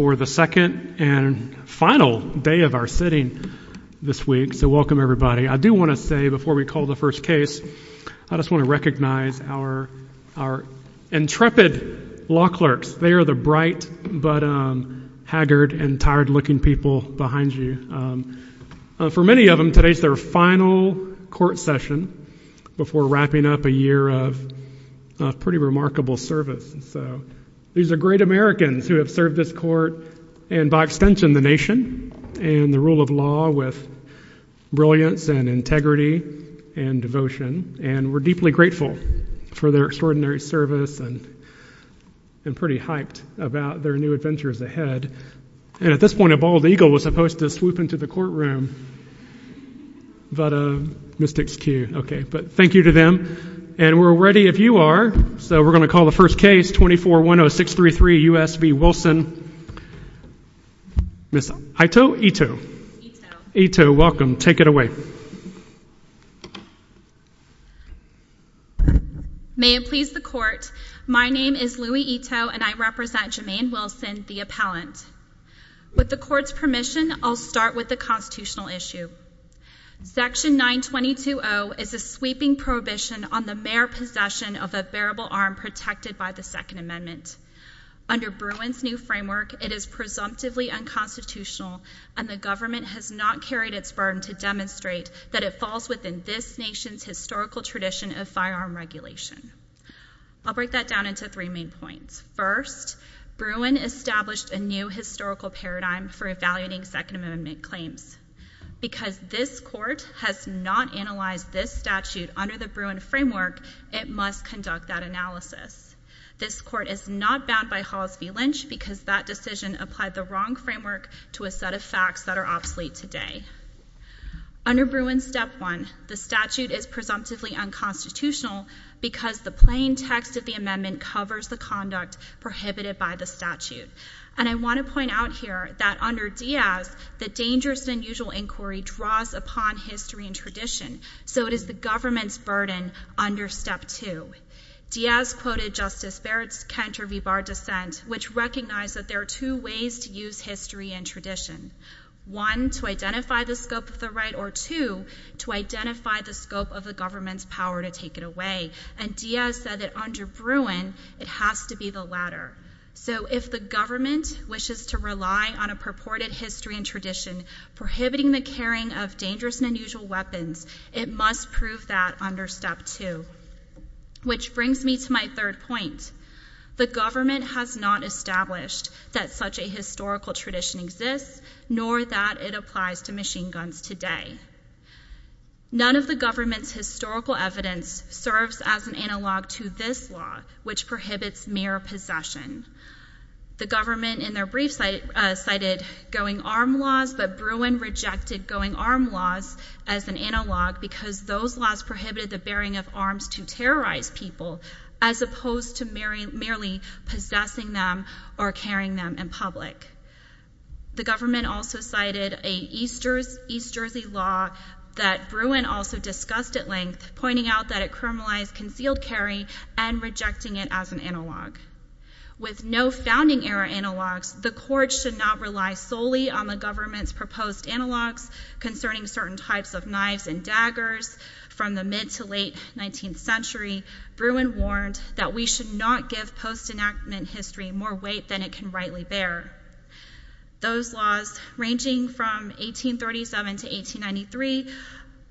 for the second and final day of our sitting this week. So welcome everybody. I do want to say before we call the first case, I just want to recognize our, our intrepid law clerks. They are the bright, but haggard and tired looking people behind you. For many of them, today's their final court session before wrapping up a year of pretty remarkable service. So these are great Americans who have served this court and by extension, the nation and the rule of law with brilliance and integrity and devotion. And we're deeply grateful for their extraordinary service and I'm pretty hyped about their new adventures ahead. And at this point, a bald eagle was supposed to swoop into the courtroom, but a mystics queue. Okay. But thank you to them. And we're ready if you are. So we're going to call the first case 2410633 U.S. v. Wilson. Ms. Ito? Ito. Ito, welcome. Take it away. May it please the court. My name is Louie Ito and I represent Jemaine Wilson, the appellant. With the court's permission, I'll start with the constitutional issue. Section 922-0 is a sweeping prohibition on the mere possession of a bearable arm protected by the Second Amendment. Under Bruin's new framework, it is presumptively unconstitutional and the government has not carried its burden to demonstrate that it falls within this nation's historical tradition of firearm regulation. I'll break that down into three main points. First, Bruin established a new historical paradigm for evaluating Second Amendment claims. Because this court has not analyzed this statute under the Bruin framework, it must conduct that analysis. This court is not bound by Hollis v. Lynch because that decision applied the wrong framework to a set of facts that are obsolete today. Under Bruin's Step 1, the statute is presumptively unconstitutional because the plain text of the amendment covers the conduct prohibited by the statute. And I want to point out here that under Diaz, the dangerous and unusual inquiry draws upon history and tradition, so it is the government's burden under Step 2. Diaz quoted Justice Barrett's Cantor v. Barr dissent, which recognized that there are two ways to use history and tradition. One, to identify the scope of the right, or two, to identify the scope of the government's power to take it away. And Diaz said that under Bruin, it has to be the latter. So if the government wishes to rely on a purported history and tradition prohibiting the carrying of dangerous and unusual weapons, it must prove that under Step 2. Which brings me to my third point. The government has not established that such a historical tradition exists, nor that it applies to machine guns today. None of the government's historical evidence serves as an analog to this law, which prohibits mere possession. The government, in their own words, used armed laws as an analog because those laws prohibited the bearing of arms to terrorize people, as opposed to merely possessing them or carrying them in public. The government also cited an East Jersey law that Bruin also discussed at length, pointing out that it criminalized concealed carry and rejecting it as an analog. With no founding era analogs, the court should not rely solely on the government's proposed analogs concerning certain types of knives and daggers. From the mid to late 19th century, Bruin warned that we should not give post-enactment history more weight than it can rightly bear. Those laws, ranging from 1837 to 1893,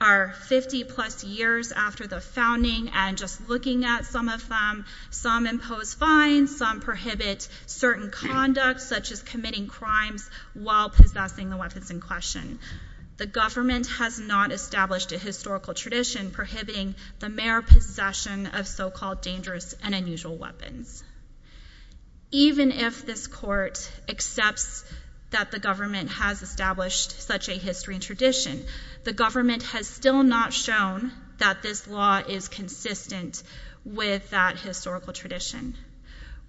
are 50 plus years after the founding, and just looking at some of them, some impose fines, some prohibit certain conduct, such as committing crimes while possessing the weapons in question. The government has not established a historical tradition prohibiting the mere possession of so-called dangerous and unusual weapons. Even if this court accepts that the government has established such a history and tradition, the government has still not shown that this law is consistent with that historical tradition.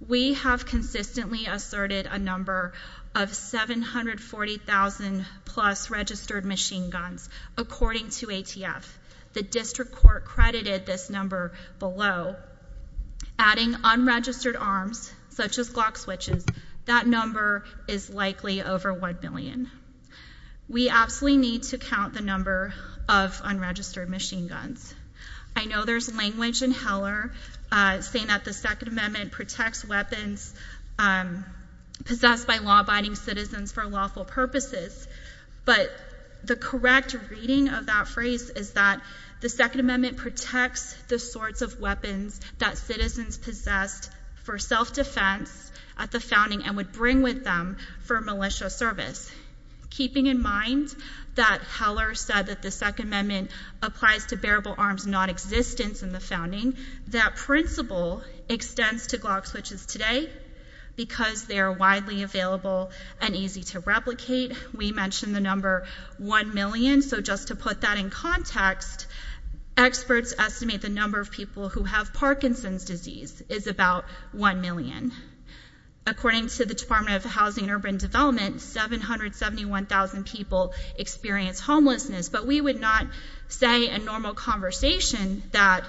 We have consistently asserted a number of 740,000 plus registered machine guns, according to ATF. The district court credited this number below. Adding unregistered arms, such as the number of unregistered machine guns. I know there's language in Heller saying that the Second Amendment protects weapons possessed by law-abiding citizens for lawful purposes, but the correct reading of that phrase is that the Second Amendment protects the sorts of weapons that citizens possessed for self-defense at the founding and would bring with them for militia service. Keeping in mind that Heller said that the Second Amendment applies to bearable arms non-existence in the founding, that principle extends to Glock switches today because they are widely available and easy to replicate. We mentioned the number 1 million, so just to put that in context, experts estimate the number of people who have Parkinson's disease is about 1 million. According to the Department of Housing and Urban Development, 771,000 people experience homelessness, but we would not say in normal conversation that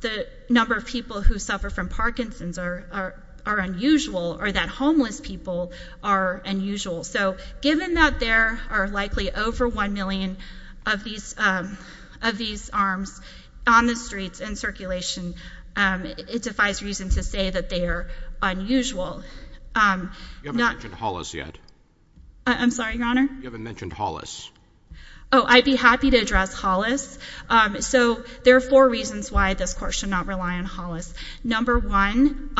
the number of people who suffer from Parkinson's are unusual or that homeless people are unusual. So given that there are likely over 1 million of these arms on the streets in circulation, it defies reason to say that they are unusual. You haven't mentioned Hollis yet. I'm sorry, Your Honor? You haven't mentioned Hollis. Oh, I'd be happy to address Hollis. So there are four reasons why this Court should not rely on Hollis. Number 1,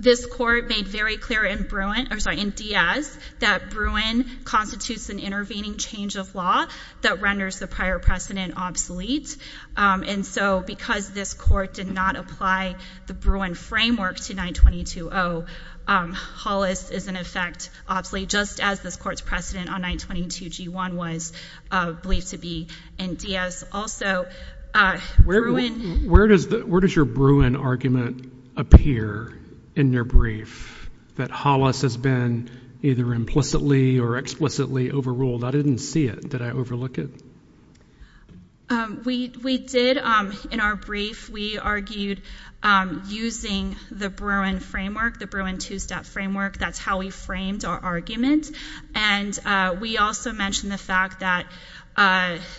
this Court made very clear in Diaz that Bruin constitutes an intervening change of law that renders the prior precedent obsolete, and so because this Court did not apply the Bruin framework to 922-0, Hollis is in effect obsolete, just as this Court's precedent on 922-G1 was believed to be in Diaz. Also, Bruin— Where does your Bruin argument appear in your brief, that Hollis has been either implicitly or explicitly overruled? I didn't see it. Did I overlook it? We did. In our brief, we argued using the Bruin framework, the Bruin two-step framework. That's how we framed our argument, and we also mentioned the fact that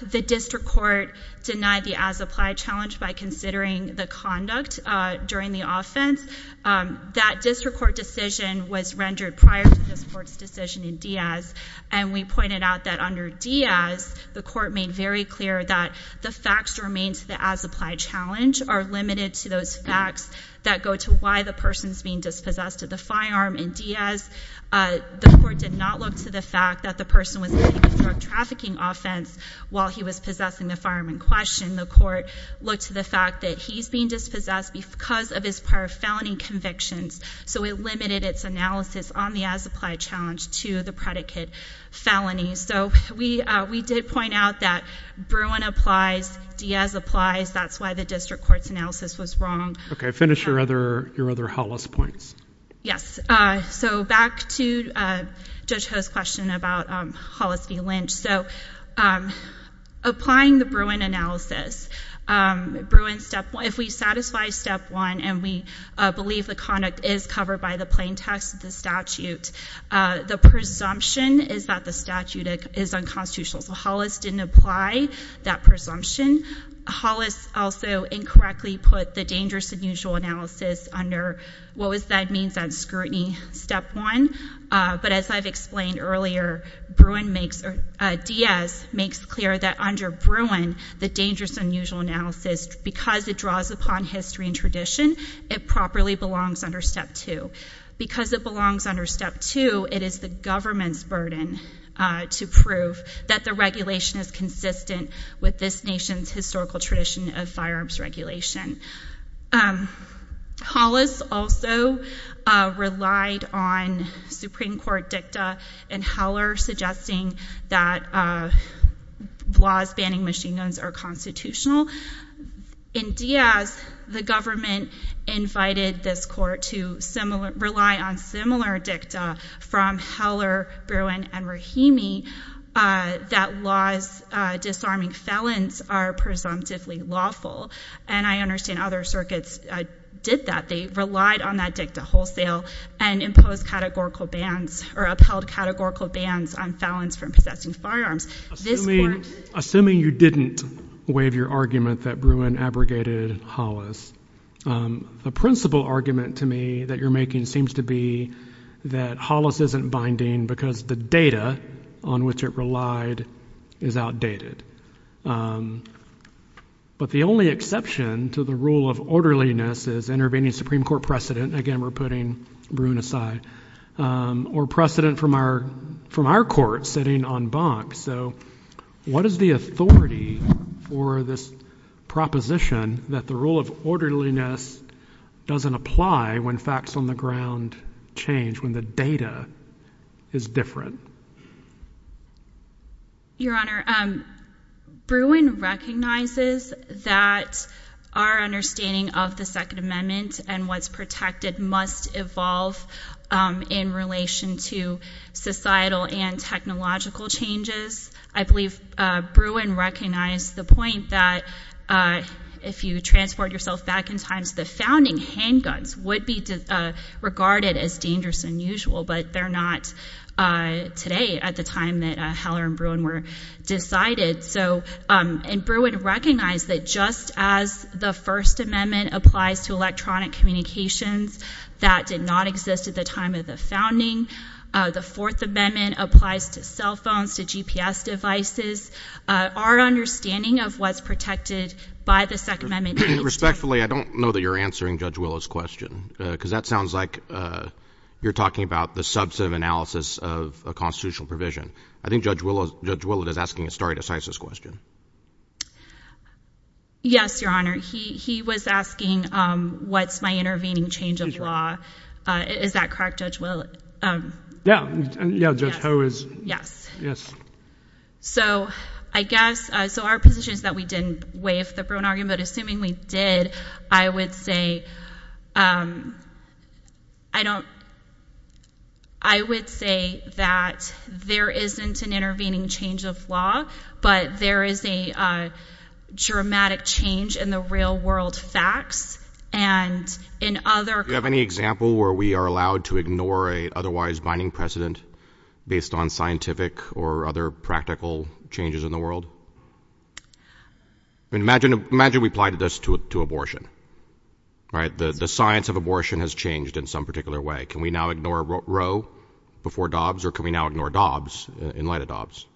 the District Court denied the as-applied challenge by considering the conduct during the offense. That District Court decision was rendered prior to this Court's decision in Diaz, and we pointed out that under Diaz, the Court made very clear that the facts remain to the as-applied challenge are limited to those facts that go to why the person's being dispossessed of the firearm. In Diaz, the Court did not look to the fact that the person was committing a drug trafficking offense while he was possessing the firearm in question. The Court looked to the fact that he's being dispossessed because of his prior felony convictions, so it limited its analysis on the as-applied challenge to the predicate felony. We did point out that Bruin applies, Diaz applies. That's why the District Court's analysis was wrong. Okay. Finish your other Hollis points. Yes. Back to Judge Ho's question about Hollis v. Lynch. Applying the Bruin analysis, if we satisfy Step 1 and we believe the conduct is covered by the plain text of the statute, the presumption is that the statute is unconstitutional. So Hollis didn't apply that presumption. Hollis also incorrectly put the dangerous and unusual analysis under what that means on scrutiny Step 1, but as I've explained earlier, Diaz makes clear that under Bruin, the dangerous and unusual analysis, because it draws upon history and tradition, it properly belongs under Step 2. Because it belongs under Step 2, it is the government's burden to prove that the regulation is consistent with this nation's historical tradition of firearms regulation. Hollis also relied on Supreme Court dicta and Heller suggesting that laws banning machine guns are constitutional. In Diaz, the government invited this court to rely on similar dicta from Heller, Bruin, and Rahimi that laws disarming felons are presumptively lawful. And I understand other circuits did that. They relied on that categorical bans on felons from possessing firearms. Assuming you didn't waive your argument that Bruin abrogated Hollis, the principal argument to me that you're making seems to be that Hollis isn't binding because the data on which it relied is outdated. But the only exception to the rule of orderliness is intervening Supreme Court precedent. Again, we're putting Bruin aside. Or precedent from our court sitting on bonk. So what is the authority for this proposition that the rule of orderliness doesn't apply when facts on the ground change, when the data is different? Your Honor, Bruin recognizes that our understanding of the Second Amendment and what's protected must evolve in relation to societal and technological changes. I believe Bruin recognized the point that if you transport yourself back in time, the founding handguns would be regarded as dangerous and unusual, but they're not today at the time that Heller and Bruin were decided. And Bruin recognized that just as the First Amendment applies to electronic communications that did not exist at the time of the founding, the Fourth Amendment applies to cell phones, to GPS devices. Our understanding of what's protected by the Second Amendment... Respectfully, I don't know that you're answering Judge Willow's question. Because that sounds like you're talking about the substantive analysis of a constitutional provision. I think Judge Willow is asking a stare decisis question. Yes, Your Honor. He was asking what's my intervening change of law. Is that correct, Judge Willow? Yeah. Judge Ho is... Yes. So I guess... So our position is that we didn't waive the Bruin argument, but assuming we did, I would say that there isn't an intervening change of law, but there is a dramatic change in the real world facts and in other... Do you have any example where we are allowed to ignore an otherwise binding precedent based on scientific or other practical changes in the world? Imagine we applied this to a public court, to abortion. The science of abortion has changed in some particular way. Can we now ignore Roe before Dobbs, or can we now ignore Dobbs in light of Dobbs?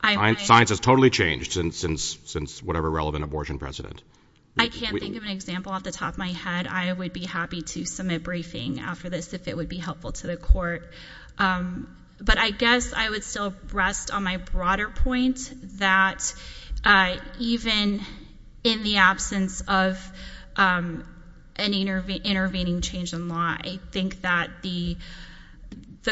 Science has totally changed since whatever relevant abortion precedent. I can't think of an example off the top of my head. I would be happy to submit briefing after this if it would be helpful to the court. But I guess I would still rest on my broader point, that even in the absence of an intervening change in law, I think that the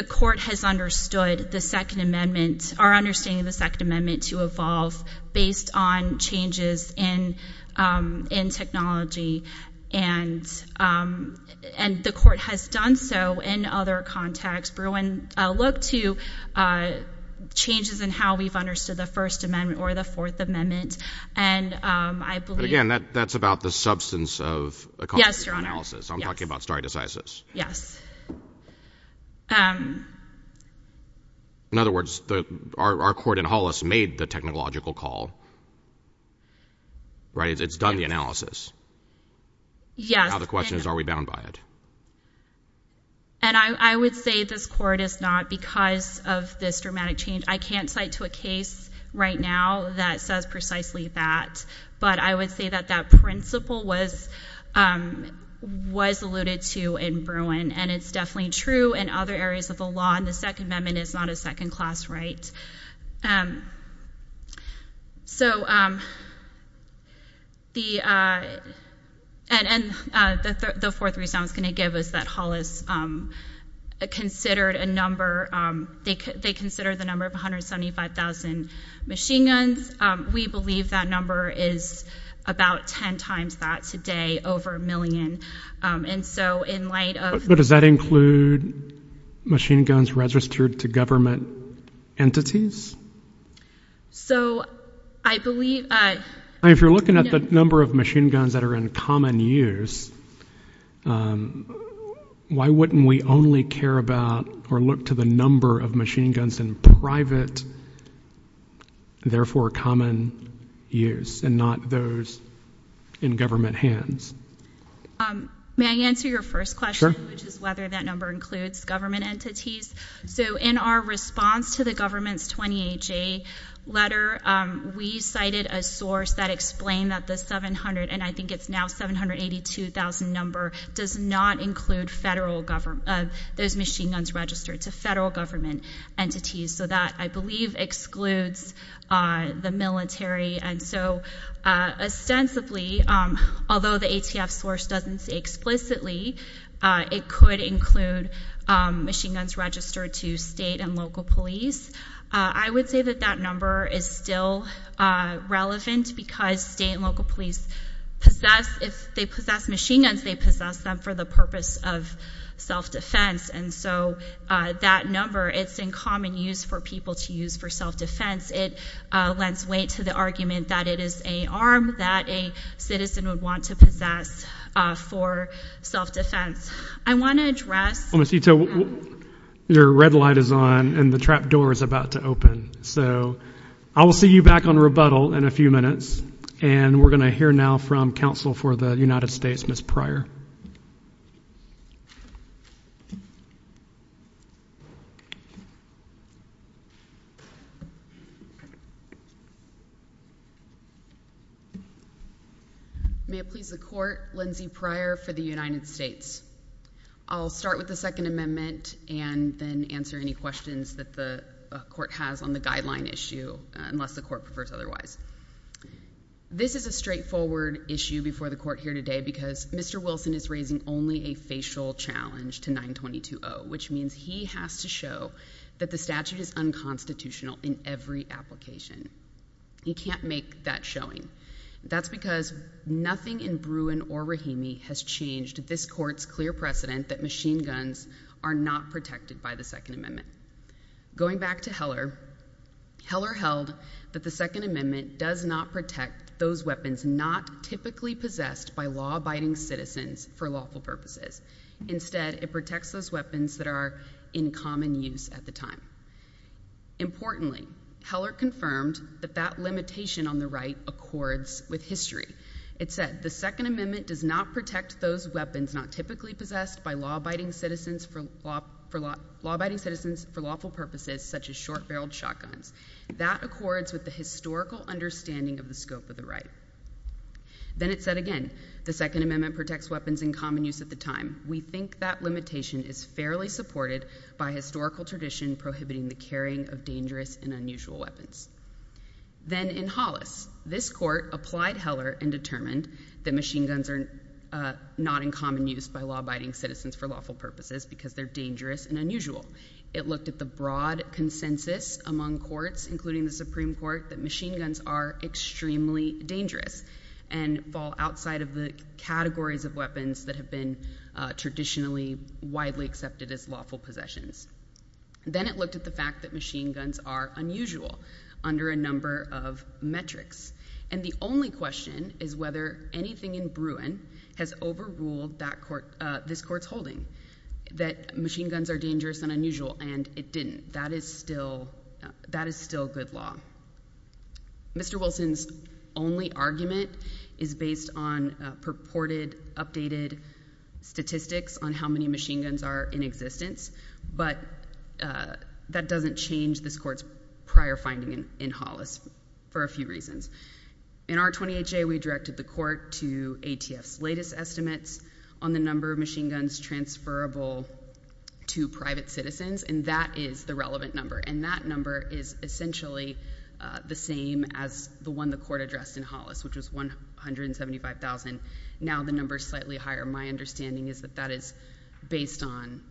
court has understood the Second Amendment, our understanding of the Second Amendment to evolve based on changes in technology, and the court has done so in other contexts. Bruin looked to changes in how we've understood the First Amendment or the Fourth Amendment, and I believe... Again, that's about the substance of a cognitive analysis. I'm talking about stare decisis. In other words, our court in Hollis made the technological call. It's done the analysis. The question is, are we bound by it? I would say this court is not because of this dramatic change. I can't cite to a case right now that says precisely that, but I would say that that principle was alluded to in Bruin, and it's definitely true in other areas of the law, and the Second Amendment is not a second-class right. The fourth reason I was going to give is that Hollis considered a number... They considered the number of 175,000 machine guns. We believe that number is about ten times that today over a million, and so in light of... But does that include machine guns registered to government entities? If you're looking at the number of machine guns that are in common use, why wouldn't we only care about or look to the number of machine guns in private, therefore common use and not those in government hands? May I answer your first question, which is whether that number includes government entities? In our response to the government's 20-H-A letter, we cited a source that explained that the 700, and I think it's now 782,000 number, does not include those machine guns registered to federal government entities. That, I believe, excludes the military, and so ostensibly, although the ATF source doesn't say explicitly, it could include machine guns registered to state and local police. I would say that that number is still relevant because state and local police possess... If they possess machine guns, they possess them for the purpose of self-defense, and so that number, it's in common use for people to use for self-defense. It lends weight to the argument that it is an arm that a citizen would want to possess for self-defense. I want to address... Well, Ms. Ito, your red light is on, and the trap door is about to open. I will see you back on rebuttal in a few minutes, and we're going to hear now from Counsel for the United States, Ms. Pryor. May it please the Court, Lindsay Pryor for the United States. I'll start with the Second Amendment and then answer any questions that the Court has on the guideline issue, unless the Court prefers otherwise. This is a straightforward issue before the Court here today because Mr. Wilson is raising only a facial challenge to 922-0, which means he has to show that the statute is unconstitutional in every application. He can't make that showing. That's because nothing in Bruin or Rahimi has changed this Court's clear precedent that machine guns are not protected by the Second Amendment. Going back to Heller, Heller held that the Second Amendment does not protect those weapons not typically possessed by law-abiding citizens for lawful purposes. Instead, it protects those weapons that are in common use at the time. Importantly, Heller confirmed that that limitation on the right accords with history. It said, the Second Amendment does not protect those weapons not typically possessed by law-abiding citizens for lawful purposes, such as short-barreled shotguns. That accords with the historical understanding of the scope of the right. Then it said again, the Second Amendment protects weapons in common use at the time. We think that limitation is fairly supported by historical tradition prohibiting the carrying of dangerous and unusual weapons. Then in Hollis, this Court applied Heller and determined that machine guns are not in common use by law-abiding citizens for lawful purposes because they're dangerous and unusual. It looked at the broad consensus among courts, including the Supreme Court, that machine guns are extremely dangerous and fall outside of the categories of weapons that have been traditionally widely accepted as lawful possessions. Then it looked at the fact that machine guns are unusual under a number of metrics. And the only question is whether anything in Bruin has overruled this Court's holding that machine guns are dangerous and unusual, and it didn't. That is still good law. Mr. Wilson's only argument is based on purported, updated statistics on how many machine guns are in existence, but that doesn't change this Court's prior finding in Hollis for a few reasons. In R-28J, we directed the Court to ATF's latest estimates on the number of machine guns transferable to private citizens, and that is the relevant number. And that number is essentially the same as the one the Court addressed in Hollis, which was 175,000. Now the number is slightly higher. My understanding is that that is based on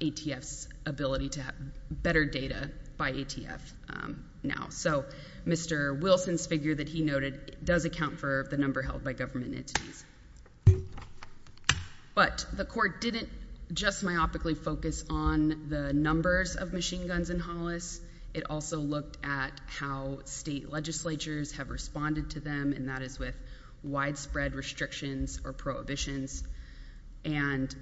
ATF's ability to have better data by ATF now. So Mr. Wilson's figure that he noted does account for the number held by government entities. But the Court didn't just myopically focus on the numbers of machine guns in Hollis. It also looked at how state legislatures have responded to them, and that is with widespread restrictions or prohibitions. And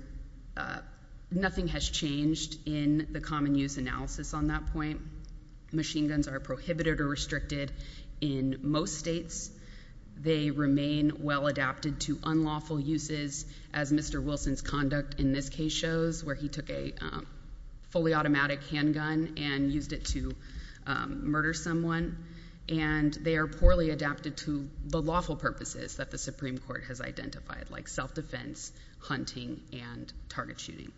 nothing has changed in the common use analysis on that point. Machine guns are prohibited or restricted in most states. They remain well adapted to unlawful uses, as Mr. Wilson's conduct in this case shows, where he took a fully automatic handgun and used it to murder someone. And they are poorly adapted to the lawful purposes that the Supreme Court has identified, like self-defense, hunting, and target shooting.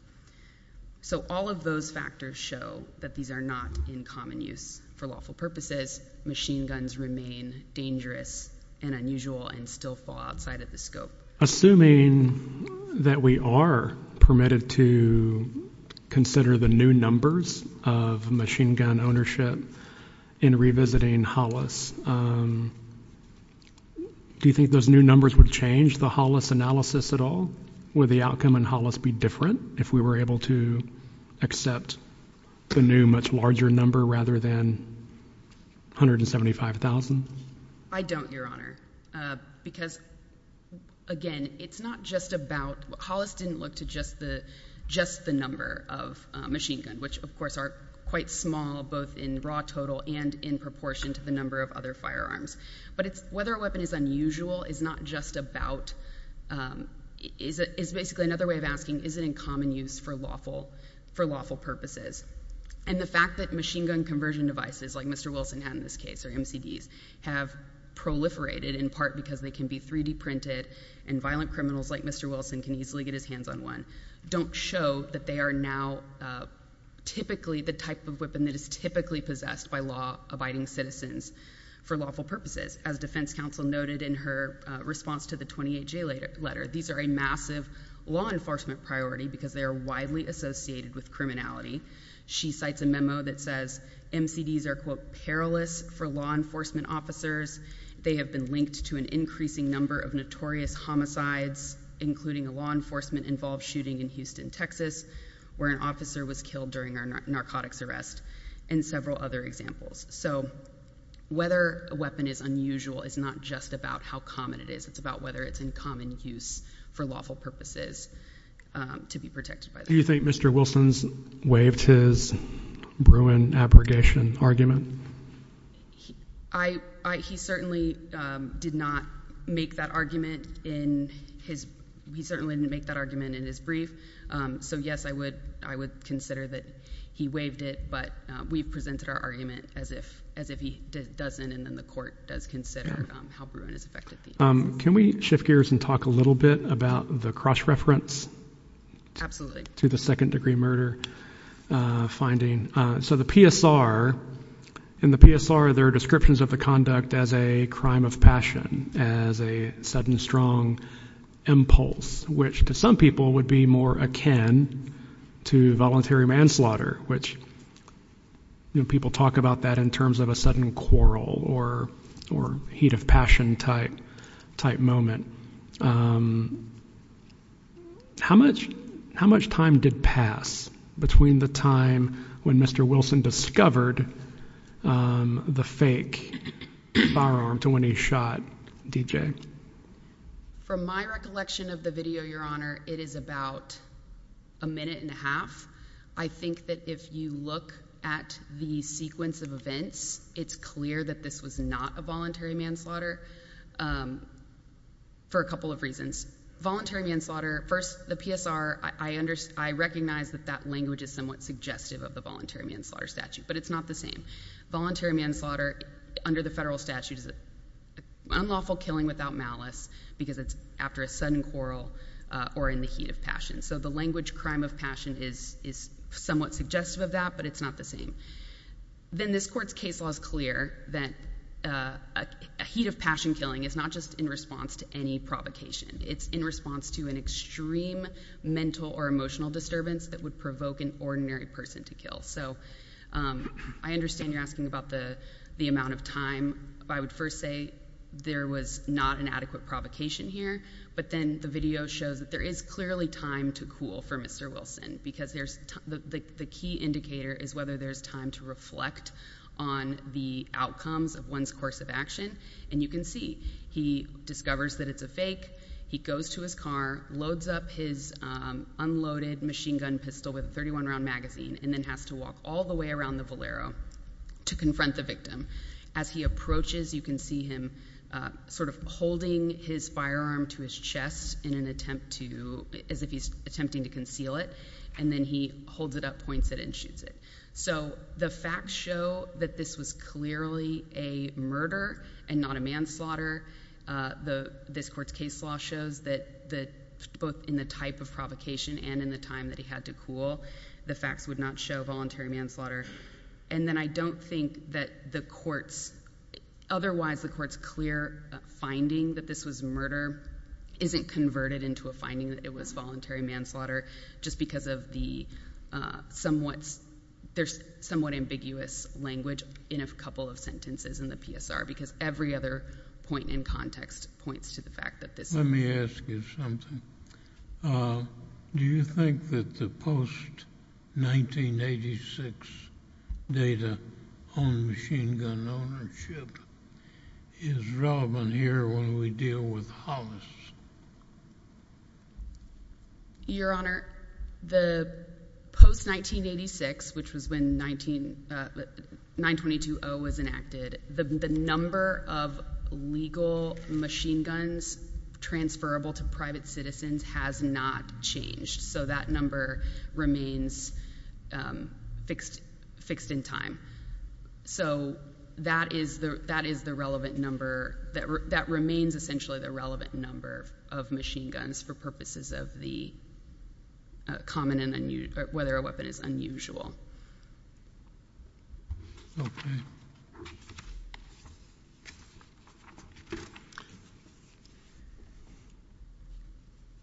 So all of those factors show that these are not in common use for lawful purposes. Machine guns remain dangerous and unusual and still fall outside of the scope. Assuming that we are permitted to consider the new numbers of machine gun ownership in revisiting Hollis, do you think those new numbers would change the Hollis analysis at all? Would the outcome in Hollis be different if we were able to accept the new, much larger number rather than 175,000? I don't, Your Honor. Because, again, it's not just about—Hollis didn't look to just the number of machine guns, which of course are quite small both in raw total and in proportion to the number of other firearms. But whether a weapon is unusual is not just about—is basically another way of asking is it in common use for lawful purposes? And the fact that machine gun conversion devices like Mr. Wilson had in this case, or MCDs, have proliferated in part because they can be 3D printed and violent criminals like Mr. Wilson can easily get his hands on one, don't show that they are now typically the type of weapon that is typically possessed by law-abiding citizens for lawful purposes. As defense counsel noted in her response to the 28-J letter, these are a massive law enforcement priority because they are widely associated with criminality. She cites a memo that says MCDs are, quote, perilous for law enforcement officers. They have been linked to an increasing number of notorious homicides, including a law enforcement-involved shooting in Houston, Texas, where an officer was killed during a narcotics arrest and several other examples. So whether a weapon is unusual is not just about how common it is. It's about whether it's in common use for lawful purposes to be protected by the law. Do you think Mr. Wilson's waived his Bruin abrogation argument? I—he certainly did not make that argument in his—he certainly didn't make that argument in his brief. So, yes, I would consider that he waived it, but we presented our argument as if he doesn't, and then the court does not consider how Bruin has affected the incident. Can we shift gears and talk a little bit about the cross-reference? Absolutely. To the second-degree murder finding. So the PSR, in the PSR, there are descriptions of the conduct as a crime of passion, as a sudden, strong impulse, which to some people would be more akin to voluntary manslaughter, which, you know, people talk about that in terms of a sudden quarrel or heat of passion type moment. How much time did pass between the time when Mr. Wilson discovered the fake firearm to when he shot DJ? From my recollection of the video, Your Honor, it is about a minute and a half. I think that if you look at the sequence of events, it's clear that this was not a voluntary manslaughter for a couple of reasons. Voluntary manslaughter—first, the PSR, I understand—I recognize that that language is somewhat suggestive of the voluntary manslaughter statute, but it's not the same. Voluntary manslaughter, under the federal statute, is an unlawful killing without malice because it's after a sudden quarrel or in the heat of passion. So the language crime of passion is somewhat suggestive of that, but it's not the same. Then this Court's case law is clear that a heat of passion killing is not just in response to any provocation. It's in response to an extreme mental or emotional disturbance that would provoke an ordinary person to kill. So I understand you're asking about the amount of time. I would first say there was not an adequate provocation here, but then the video shows that there is clearly time to cool for Mr. Wilson because the key indicator is whether there's time to reflect on the outcomes of one's course of action, and you can see he discovers that it's a fake. He goes to his car, loads up his unloaded machine gun pistol with a 31-round magazine, and then has to walk all the way around the Valero to confront the victim. As he approaches, you can see him holding his firearm to his chest as if he's attempting to conceal it, and then he holds it up, points it, and shoots it. So the facts show that this was clearly a murder and not a manslaughter. This Court's case law shows that both in the type of provocation and in the time that he had to cool, the facts would not show voluntary manslaughter. And then I don't think that otherwise the Court's clear finding that this was murder isn't converted into a finding that it was voluntary manslaughter, just because there's somewhat ambiguous language in a couple of sentences in the PSR, because every other point in context points to the fact that this was murder. Your Honor, the post-1986, which was when 922-0 was enacted, the number of legal machine guns transferable to private citizens has not changed, so that number remains fixed in time. So that is the relevant number that remains essentially the relevant number of machine guns for purposes of whether a weapon is unusual.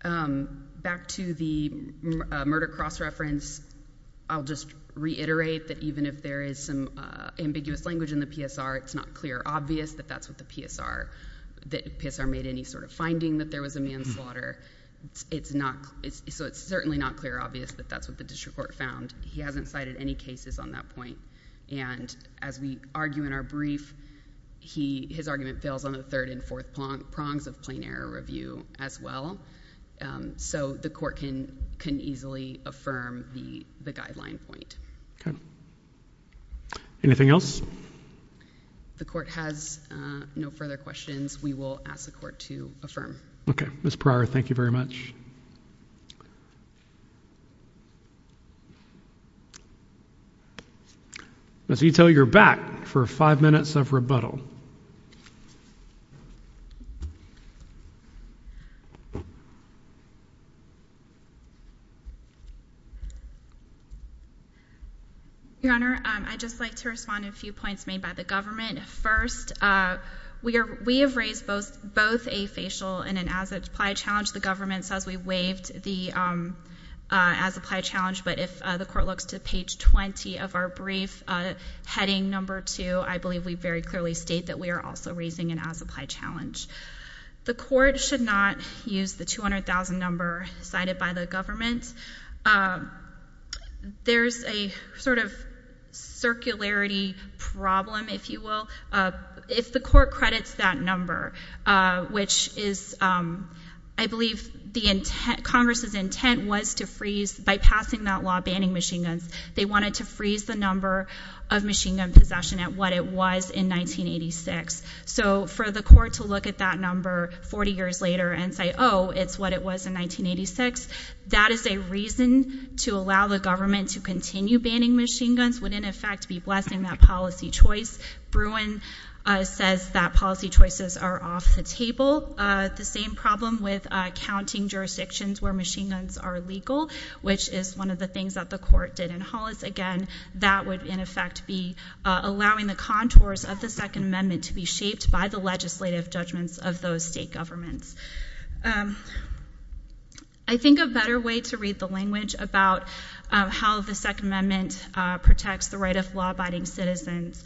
Back to the murder cross-reference, I'll just reiterate that even if there is some ambiguous language in the PSR, it's not clear or obvious that that's what the PSR, that PSR made any sort of finding that there was a manslaughter. So it's certainly not clear or obvious that that's what the district court found. He hasn't cited any cases on that point. And as we argue in our brief, his argument fails on the third and fourth prongs of plain error review as well. So the Court can easily affirm the guideline point. Anything else? The Court has no further questions. We will ask the Court to affirm. Okay. Ms. Pryor, thank you very much. Ms. Ito, you're back for five minutes of rebuttal. Your Honor, I'd just like to respond to a few points made by the government. First, we have raised both a facial and an as-applied challenge. The government says we waived the as-applied challenge, but if the Court looks to page 20 of our brief, heading number 2, I believe we very clearly state that we are also raising an as-applied challenge. The Court should not use the 200,000 number cited by the government. There's a sort of circularity problem, if you will. If the Court credits that number, which is, I believe the Congress's intent was to freeze, by passing that law banning machine guns, they wanted to freeze the number of machine gun possession at what it was in 1986. So for the Court to look at that number 40 years later and say, oh, it's what it was in 1986, that is a reason to allow the government to continue banning machine guns, would in effect be blessing that policy choice. Bruin says that policy choices are off the table. The same problem with counting jurisdictions where machine guns are legal, which is one of the things that the Court did in Hollis. Again, that would in effect be allowing the contours of the Second Amendment to be shaped by the legislative judgments of those state governments. I think a better way to read the language about how the Second Amendment protects the right of law-abiding citizens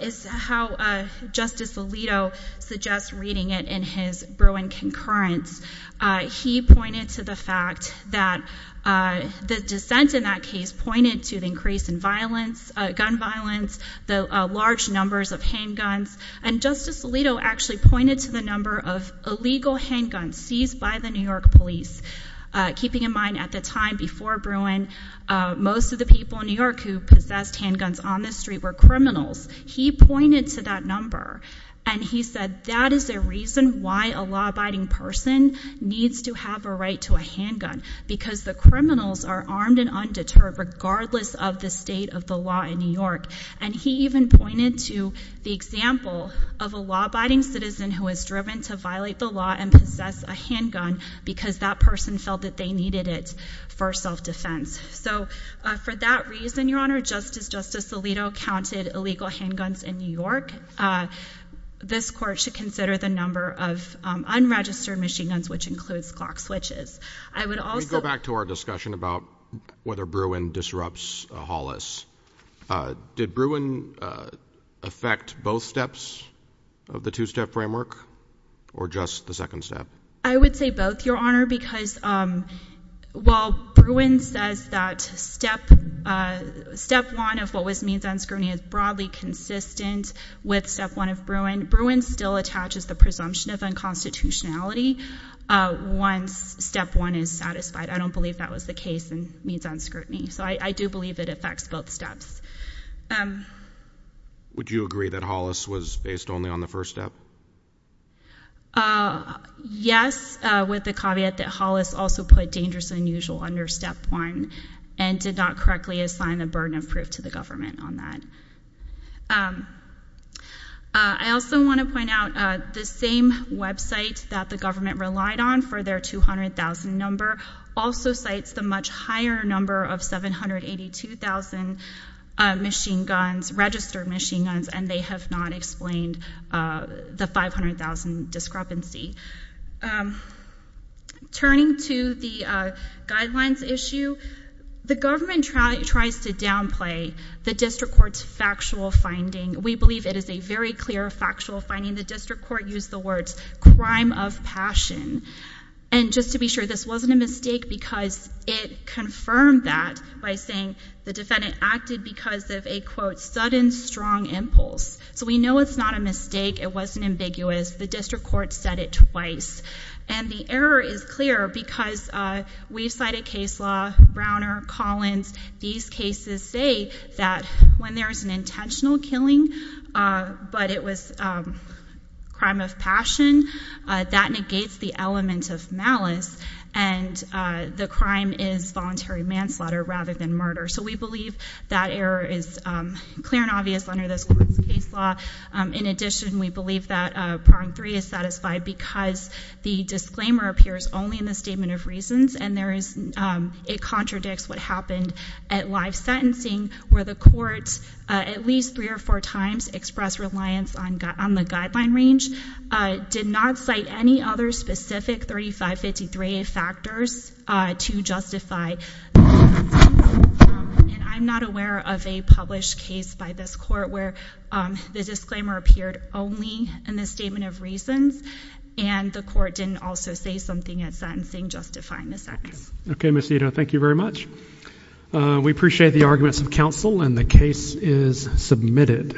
is how Justice Alito suggests reading it in his Bruin concurrence. He pointed to the fact that the dissent in that case pointed to the increase in gun violence, the large numbers of handguns, and Justice Alito actually pointed to the number of illegal handguns used by the New York police, keeping in mind at the time before Bruin, most of the people in New York who possessed handguns on the street were criminals. He pointed to that number and he said that is a reason why a law-abiding person needs to have a right to a handgun, because the criminals are armed and undeterred regardless of the state of the law in New York. And he even pointed to the example of a law-abiding citizen who is determined to violate the law and possess a handgun because that person felt that they needed it for self-defense. So for that reason, Your Honor, just as Justice Alito counted illegal handguns in New York, this Court should consider the number of unregistered machine guns, which includes clock switches. I would also— Let me go back to our discussion about whether Bruin disrupts Hollis. Did Bruin affect both steps of the two-step framework or just the second step? I would say both, Your Honor, because while Bruin says that step one of what was means on scrutiny is broadly consistent with step one of Bruin, Bruin still attaches the presumption of unconstitutionality once step one is satisfied. I don't believe that was the case in means on scrutiny. So I do believe it affects both steps. Would you agree that Hollis was based only on the first step? Yes, with the caveat that Hollis also put dangerous and unusual under step one and did not correctly assign the burden of proof to the government on that. I also want to point out the same website that the government relied on for their 200,000 number also cites the much higher number of 782,000 machine guns, registered machine guns, and they have not explained the 500,000 discrepancy. Turning to the guidelines issue, the government tries to downplay the District Court's factual finding. We believe it is a very clear factual finding. The District Court used the words crime of passion. And just to be sure, this wasn't a mistake because it confirmed that by saying the defendant acted because of a, quote, sudden strong impulse. So we know it's not a mistake. It wasn't ambiguous. The District Court said it twice. And the error is clear because we've cited case law, Browner, Collins. These cases say that when there's an intentional killing, but it was crime of passion, that negates the element of malice and the crime is voluntary manslaughter rather than murder. So we believe that error is clear and obvious under this court's case law. In addition, we believe that prong three is satisfied because the disclaimer appears only in the statement of reasons and it contradicts what happened at live sentencing where the court at least three or four times expressed reliance on the guideline range, did not cite any other specific 3553A factors to justify. And I'm not aware of a published case by this court where the disclaimer appeared only in the statement of reasons and the court didn't also say something at sentencing justifying the missing. Okay, Miss Ito, thank you very much. We appreciate the arguments of counsel and the case is submitted.